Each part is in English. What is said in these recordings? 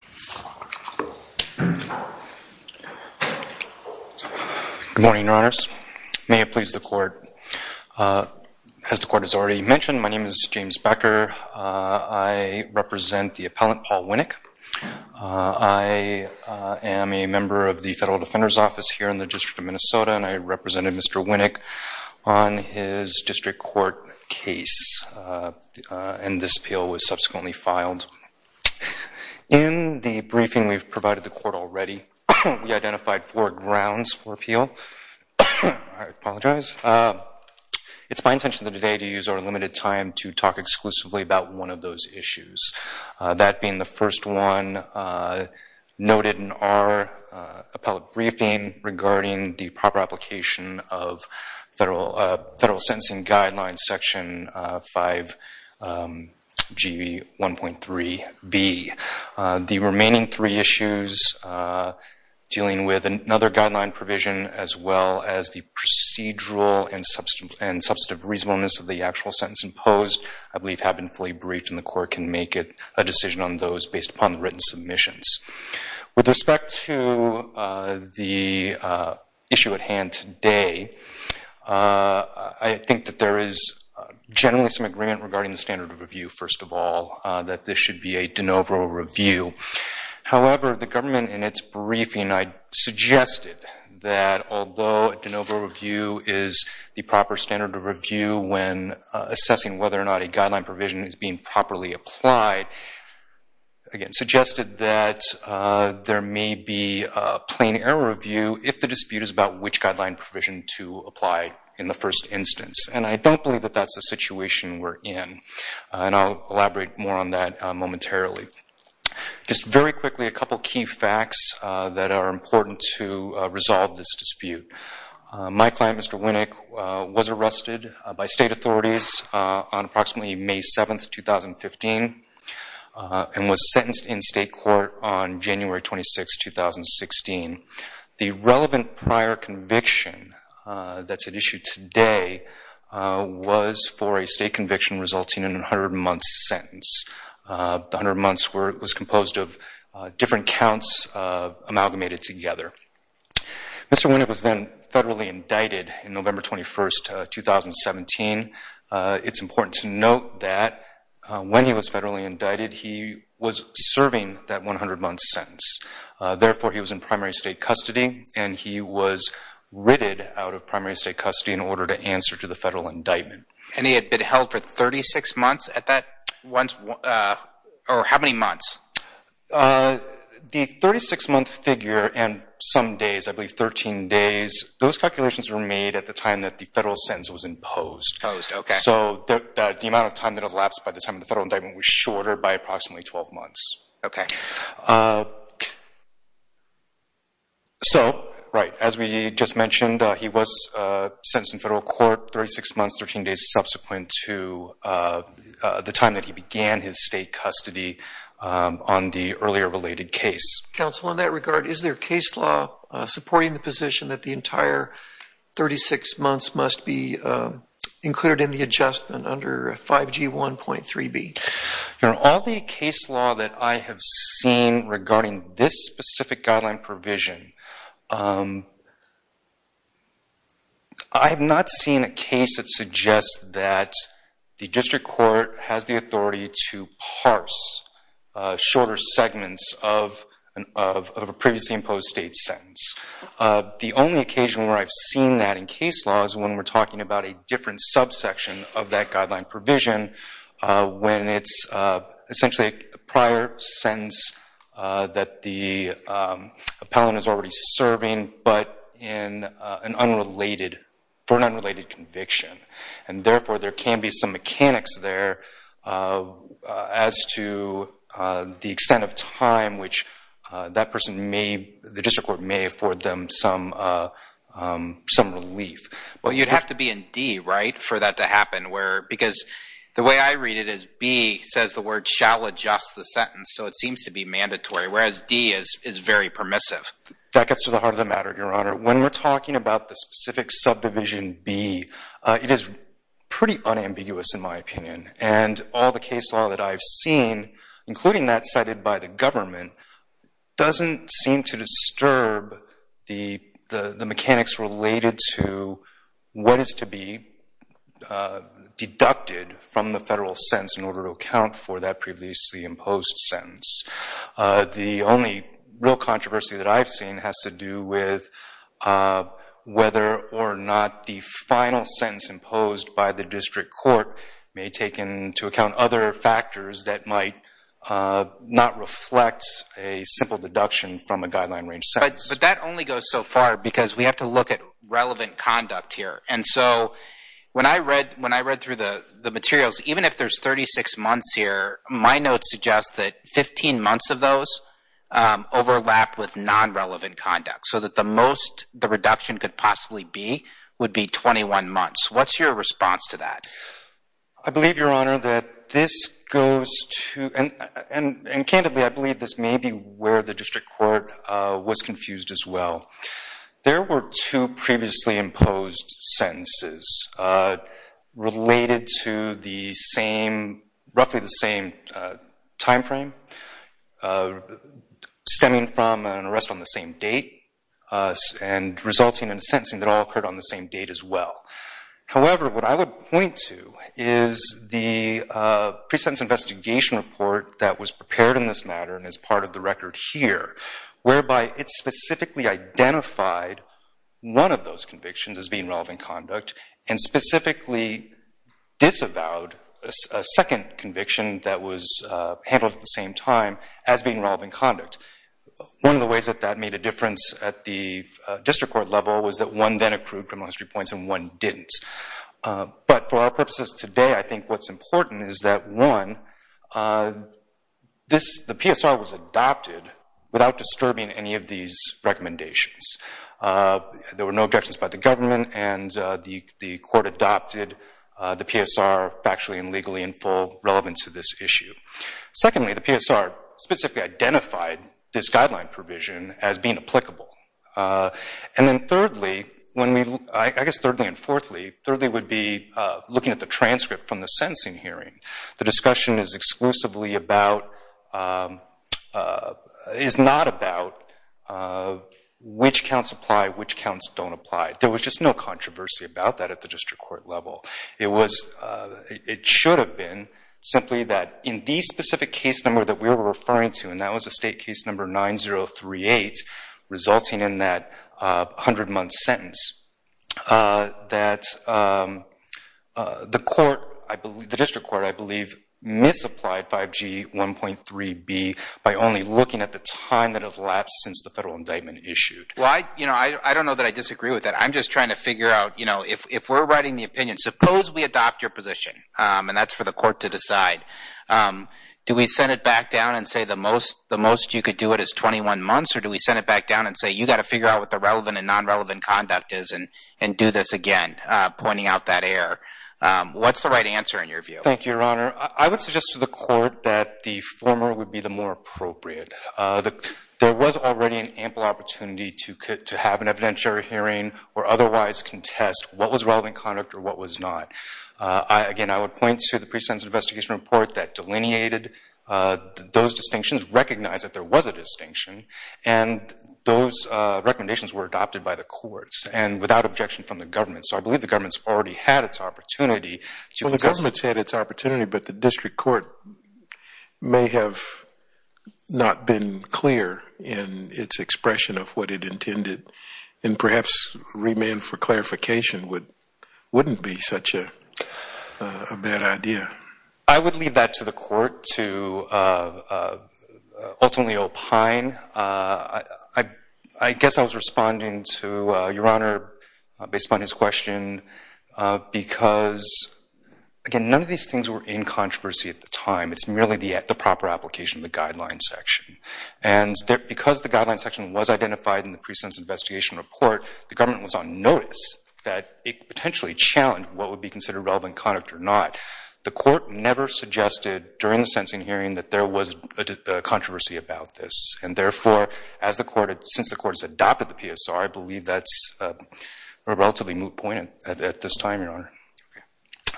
Good morning, Your Honors. May it please the Court. As the Court has already mentioned, my name is James Becker. I represent the appellant, Paul Winnick. I am a member of the Federal Defender's Office here in the District of Minnesota, and I represented Mr. Winnick on his district court case, and this appeal was subsequently filed. In the briefing we've provided the Court already, we identified four grounds for appeal. I apologize. It's my intention today to use our limited time to talk exclusively about one of those issues, that being the first one noted in our appellate briefing regarding the proper application of Federal Sentencing Guidelines, Section 5GB 1.3b. The remaining three issues dealing with another guideline provision as well as the procedural and substantive reasonableness of the actual sentence imposed I believe have been fully briefed, and the Court can make a decision on those based upon the written submissions. With respect to the issue at hand today, I think that there is generally some agreement regarding the standard of review, first of all, that this should be a de novo review. However, the government in its briefing I suggested that although a de novo review is the proper standard of review when assessing whether or not a guideline provision is being properly applied, again, suggested that there may be a plain error review if the dispute is about which guideline provision to apply in the first instance, and I don't believe that that's the situation we're in, and I'll Very quickly, a couple of key facts that are important to resolve this dispute. My client, Mr. Winnick, was arrested by state authorities on approximately May 7, 2015, and was sentenced in state court on January 26, 2016. The relevant prior conviction that's at issue today was for a state conviction resulting in a 100-month sentence. The 100 different counts amalgamated together. Mr. Winnick was then federally indicted on November 21, 2017. It's important to note that when he was federally indicted, he was serving that 100-month sentence. Therefore, he was in primary state custody, and he was written out of primary state custody in order to answer to the federal indictment. And he had been held for 36 months at that one, or how many months? The 36-month figure and some days, I believe 13 days, those calculations were made at the time that the federal sentence was imposed. So, the amount of time that elapsed by the time of the federal indictment was shorter by approximately 12 months. Okay. So, right, as we just mentioned, he was sentenced in federal court, 36 months, 13 days subsequent to the time that he began his state custody on the earlier related case. Counsel, in that regard, is there a case law supporting the position that the entire 36 months must be included in the adjustment under 5G1.3b? All the case law that I have seen regarding this specific guideline provision, I have not seen a case that suggests that the district court has the authority to parse shorter segments of a previously imposed state sentence. The only occasion where I've seen that in case law is when we're talking about a different subsection of that guideline provision when it's essentially a prior sentence that the appellant is already serving, but for an unrelated conviction. And therefore, there can be some mechanics there as to the extent of time which that person may, the district court may afford them some relief. Well, you'd have to be in D, right, for that to happen? Because the way I read it is B says the word shall adjust the sentence, so it seems to be mandatory, whereas D is very permissive. That gets to the heart of the matter, Your Honor. When we're talking about the specific subdivision B, it is pretty unambiguous in my opinion. And all the case law that I've seen, including that cited by the government, doesn't seem to disturb the mechanics related to what is to be deducted from the federal sentence in order to account for that previously imposed sentence. The only real controversy that I've seen has to do with whether or not the final sentence imposed by the district court may take into account other factors that might not reflect a simple deduction from a guideline-range sentence. But that only goes so far because we have to look at relevant conduct here. And so when I read through the materials, even if there's 36 months here, my notes suggest that 15 months of those overlap with non-relevant conduct, so that the most the reduction could possibly be, would be 21 months. What's your response to that? I believe, Your Honor, that this goes to—and candidly, I believe this may be where the district court was confused as well. There were two previously imposed sentences related to the same—roughly the same timeframe stemming from an arrest on the same date and resulting in a sentencing that all occurred on the same date as well. However, what I would point to is the pre-sentence investigation report that was prepared in this matter and is part of the record here, whereby it specifically identified one of those convictions as being relevant conduct and specifically disavowed a second conviction that was handled at the same time as being relevant conduct. One of the ways that that made a difference at the district court level was that one then accrued criminal history points and one didn't. But for our purposes today, I think what's important is that, one, the PSR was adopted without disturbing any of these recommendations. There were no objections by the government and the court adopted the PSR factually and legally in full relevant to this issue. Secondly, the PSR specifically identified this guideline provision as being applicable. And then thirdly, when we—I guess thirdly and fourthly, thirdly would be looking at the transcript from the sentencing hearing. The discussion is exclusively about—is not about which counts apply, which counts don't apply. There was just no controversy about that at the district court level. It was—it should have been simply that in the specific case number that we were referring to, and that was a state case number 9038, resulting in that 100-month sentence, that the court—the district court, I believe, misapplied 5G 1.3b by only looking at the time that had elapsed since the federal indictment issued. Well, I—you know, I don't know that I disagree with that. I'm just trying to figure out, you know, if we're writing the opinion—suppose we adopt your position, and that's for the court to decide, do we send it back down and say the most you could do it is 21 months or do we send it back down and say, you got to figure out what the relevant and non-relevant conduct is and do this again, pointing out that error? What's the right answer in your view? Thank you, Your Honor. I would suggest to the court that the former would be the more opportunity to have an evidentiary hearing or otherwise contest what was relevant conduct or what was not. Again, I would point to the pre-sentence investigation report that delineated those distinctions, recognized that there was a distinction, and those recommendations were adopted by the courts and without objection from the government. So I believe the government's already had its opportunity to— Well, the government's had its opportunity, but the district court may have not been clear in its expression of what it intended, and perhaps remand for clarification wouldn't be such a bad idea. I would leave that to the court to ultimately opine. I guess I was responding to Your Honor based upon his question because, again, none of these things were in controversy at the time. Because the guideline section was identified in the pre-sentence investigation report, the government was on notice that it could potentially challenge what would be considered relevant conduct or not. The court never suggested during the sentencing hearing that there was a controversy about this, and therefore, since the court has adopted the PSR, I believe that's a relatively moot point at this time, Your Honor.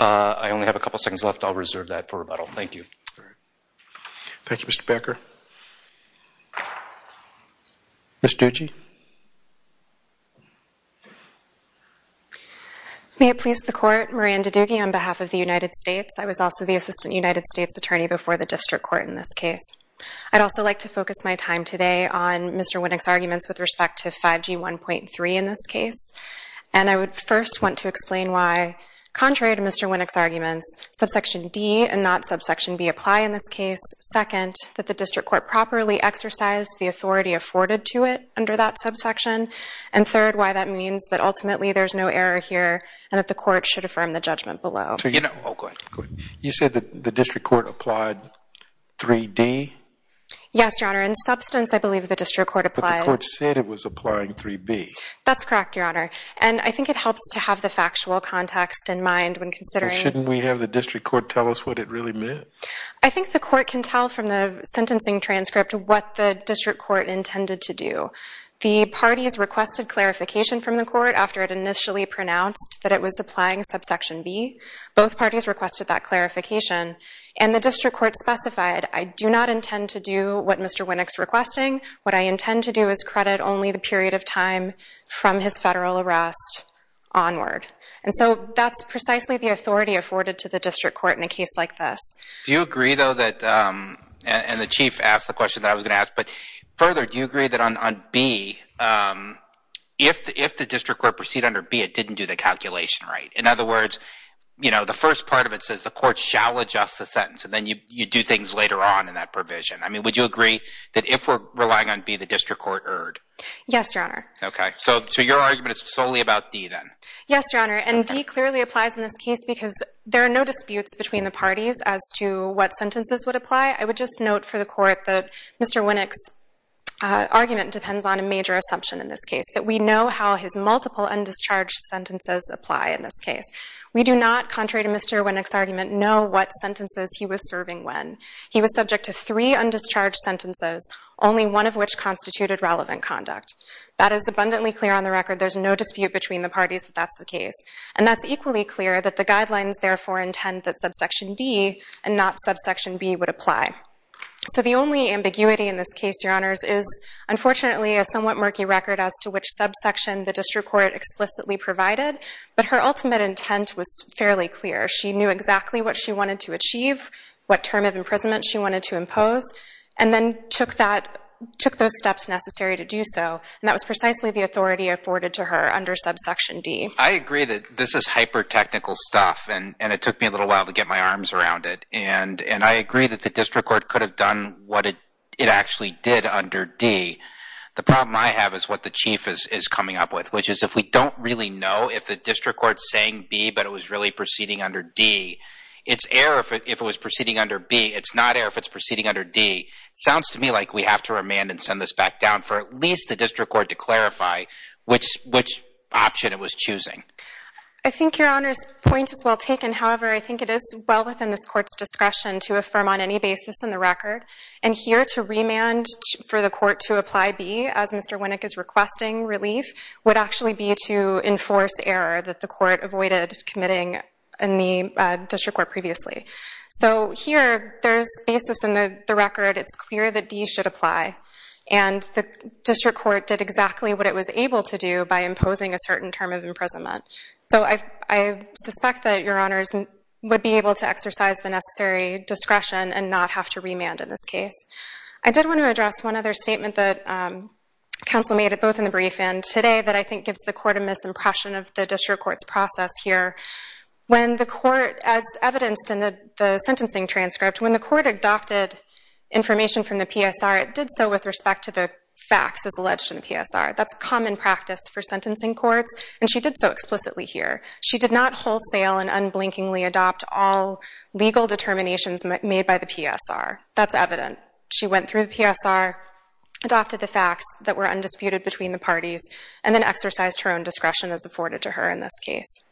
I only have a couple seconds left. I'll reserve that for rebuttal. Thank you. All right. Thank you, Mr. Becker. Ms. Ducey? May it please the Court, Moran Ducey, on behalf of the United States. I was also the Assistant United States Attorney before the district court in this case. I'd also like to focus my time today on Mr. Winnick's arguments with respect to 5G 1.3 in this case, and I would second, that the district court properly exercised the authority afforded to it under that subsection, and third, why that means that ultimately there's no error here and that the court should affirm the judgment below. You know, oh, go ahead. You said that the district court applied 3D? Yes, Your Honor. In substance, I believe the district court applied. But the court said it was applying 3B. That's correct, Your Honor, and I think it helps to have the factual context in mind when considering... Well, shouldn't we have the district court tell us what it really meant? I think the court can tell from the sentencing transcript what the district court intended to do. The parties requested clarification from the court after it initially pronounced that it was applying subsection B. Both parties requested that clarification, and the district court specified, I do not intend to do what Mr. Winnick's requesting. What I intend to do is credit only the period of time from his federal arrest onward. And so that's precisely the authority afforded to the district court in a case like this. Do you agree, though, that... And the chief asked the question that I was going to ask, but further, do you agree that on B, if the district court proceeded under B, it didn't do the calculation right? In other words, you know, the first part of it says the court shall adjust the sentence, and then you do things later on in that provision. I mean, would you agree that if we're relying on B, the district court erred? Yes, Your Honor. Okay, so your argument is solely about D, then? Yes, Your Honor, and D clearly applies in this case because there are no disputes between the parties as to what sentences would apply. I would just note for the court that Mr. Winnick's argument depends on a major assumption in this case, that we know how his multiple undischarged sentences apply in this case. We do not, contrary to Mr. Winnick's argument, know what sentences he was serving when. He was subject to three undischarged sentences, only one of which constituted relevant conduct. That is abundantly clear on the record. There's no dispute between the parties that that's the case, and that's equally clear that the guidelines therefore intend that subsection D and not subsection B would apply. So the only ambiguity in this case, Your Honors, is unfortunately a somewhat murky record as to which subsection the district court explicitly provided, but her ultimate intent was fairly clear. She knew exactly what she wanted to achieve, what term of imprisonment she wanted to impose, and then took that, took those steps necessary to do so, and that was precisely the authority afforded to her under subsection D. I agree that this is hyper-technical stuff, and it took me a little while to get my arms around it, and I agree that the district court could have done what it actually did under D. The problem I have is what the Chief is coming up with, which is if we don't really know if the district court's saying B, but it was really proceeding under D, it's error if it was proceeding under B. It's not error if it's proceeding under D. Sounds to me like we have to remand and send this back down for at least the district court to clarify which option it was choosing. I think Your Honors' point is well taken. However, I think it is well within this court's discretion to affirm on any basis in the record, and here to remand for the court to apply B as Mr. Winnick is requesting relief would actually be to enforce error that the court avoided committing in the district court previously. So here, there's basis in the record. It's clear that D should apply, and the district court did exactly what it was able to do by imposing a certain term of imprisonment. So I suspect that Your Honors would be able to exercise the necessary discretion and not have to remand in this case. I did want to address one other statement that counsel made both in the brief and today that I think gives the court a misimpression of the district court's process here. When the court, as evidenced in the sentencing transcript, when the court adopted information from the PSR, it did so with respect to the facts as alleged in the PSR. That's common practice for sentencing courts, and she did so explicitly here. She did not wholesale and unblinkingly adopt all legal determinations made by the PSR. That's evident. She went through the PSR, adopted the facts that were undisputed between the parties, and then exercised her own discretion as afforded to her in this case.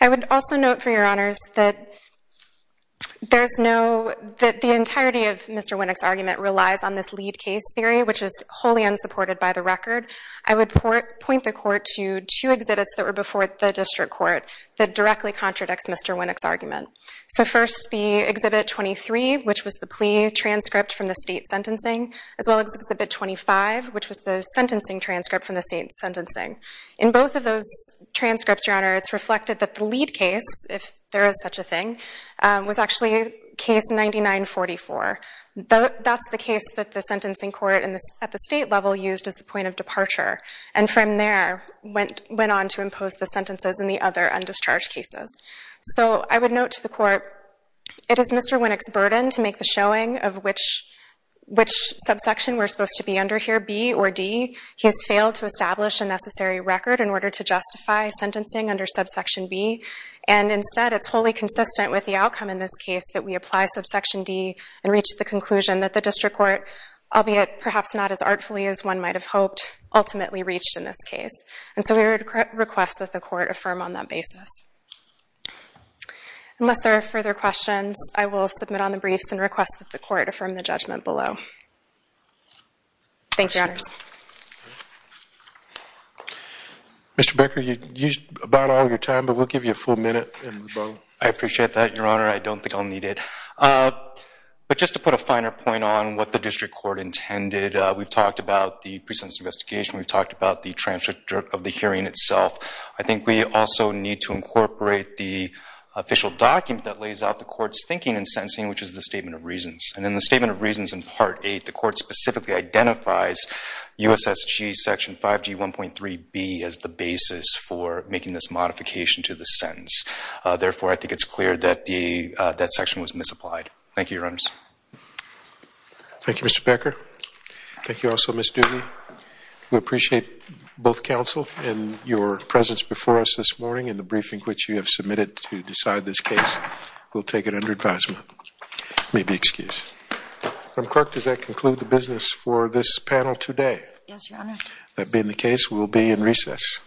I would also note for Your Honors that the entirety of Mr. Winnick's argument relies on this lead case theory, which is wholly unsupported by the record. I would point the court to two exhibits that were before the district court that directly contradicts Mr. Winnick's argument. So first, the Exhibit 23, which was the plea transcript from the state sentencing, as well as Exhibit 25, which was the sentencing transcript from the state sentencing. In both of those transcripts, Your Honor, it's reflected that the lead case, if there is such a thing, was actually Case 9944. That's the case that the sentencing court at the state level used as the point of departure, and from there went on to impose the sentences in the other undischarged cases. So I would note to the court, it is Mr. Winnick's burden to make the showing of which subsection we're supposed to be under here, B or D. He has failed to establish a necessary record in order to justify sentencing under subsection B. And instead, it's wholly consistent with the outcome in this case that we apply subsection D and reach the conclusion that the district court, albeit perhaps not as artfully as one might have hoped, ultimately reached in this case. Unless there are further questions, I will submit on the briefs and request that the court affirm the judgment below. Thank you, Your Honors. Mr. Becker, you used about all your time, but we'll give you a full minute in the bottom. I appreciate that, Your Honor. I don't think I'll need it. But just to put a finer point on what the district court intended, we've talked about the pre-sentence investigation, we've talked about the transcript of the hearing itself. I think we also need to incorporate the official document that lays out the court's thinking in sentencing, which is the Statement of Reasons. And in the Statement of Reasons in Part VIII, the court specifically identifies USSG Section 5G 1.3B as the basis for making this modification to the sentence. Therefore, I think it's clear that that section was misapplied. Thank you, Your Honors. Thank you, Mr. Becker. Thank you also, Ms. Dooley. We appreciate both counsel and your submitted to decide this case. We'll take it under advisement. You may be excused. Madam Clerk, does that conclude the business for this panel today? Yes, Your Honor. That being the case, we'll be in recess.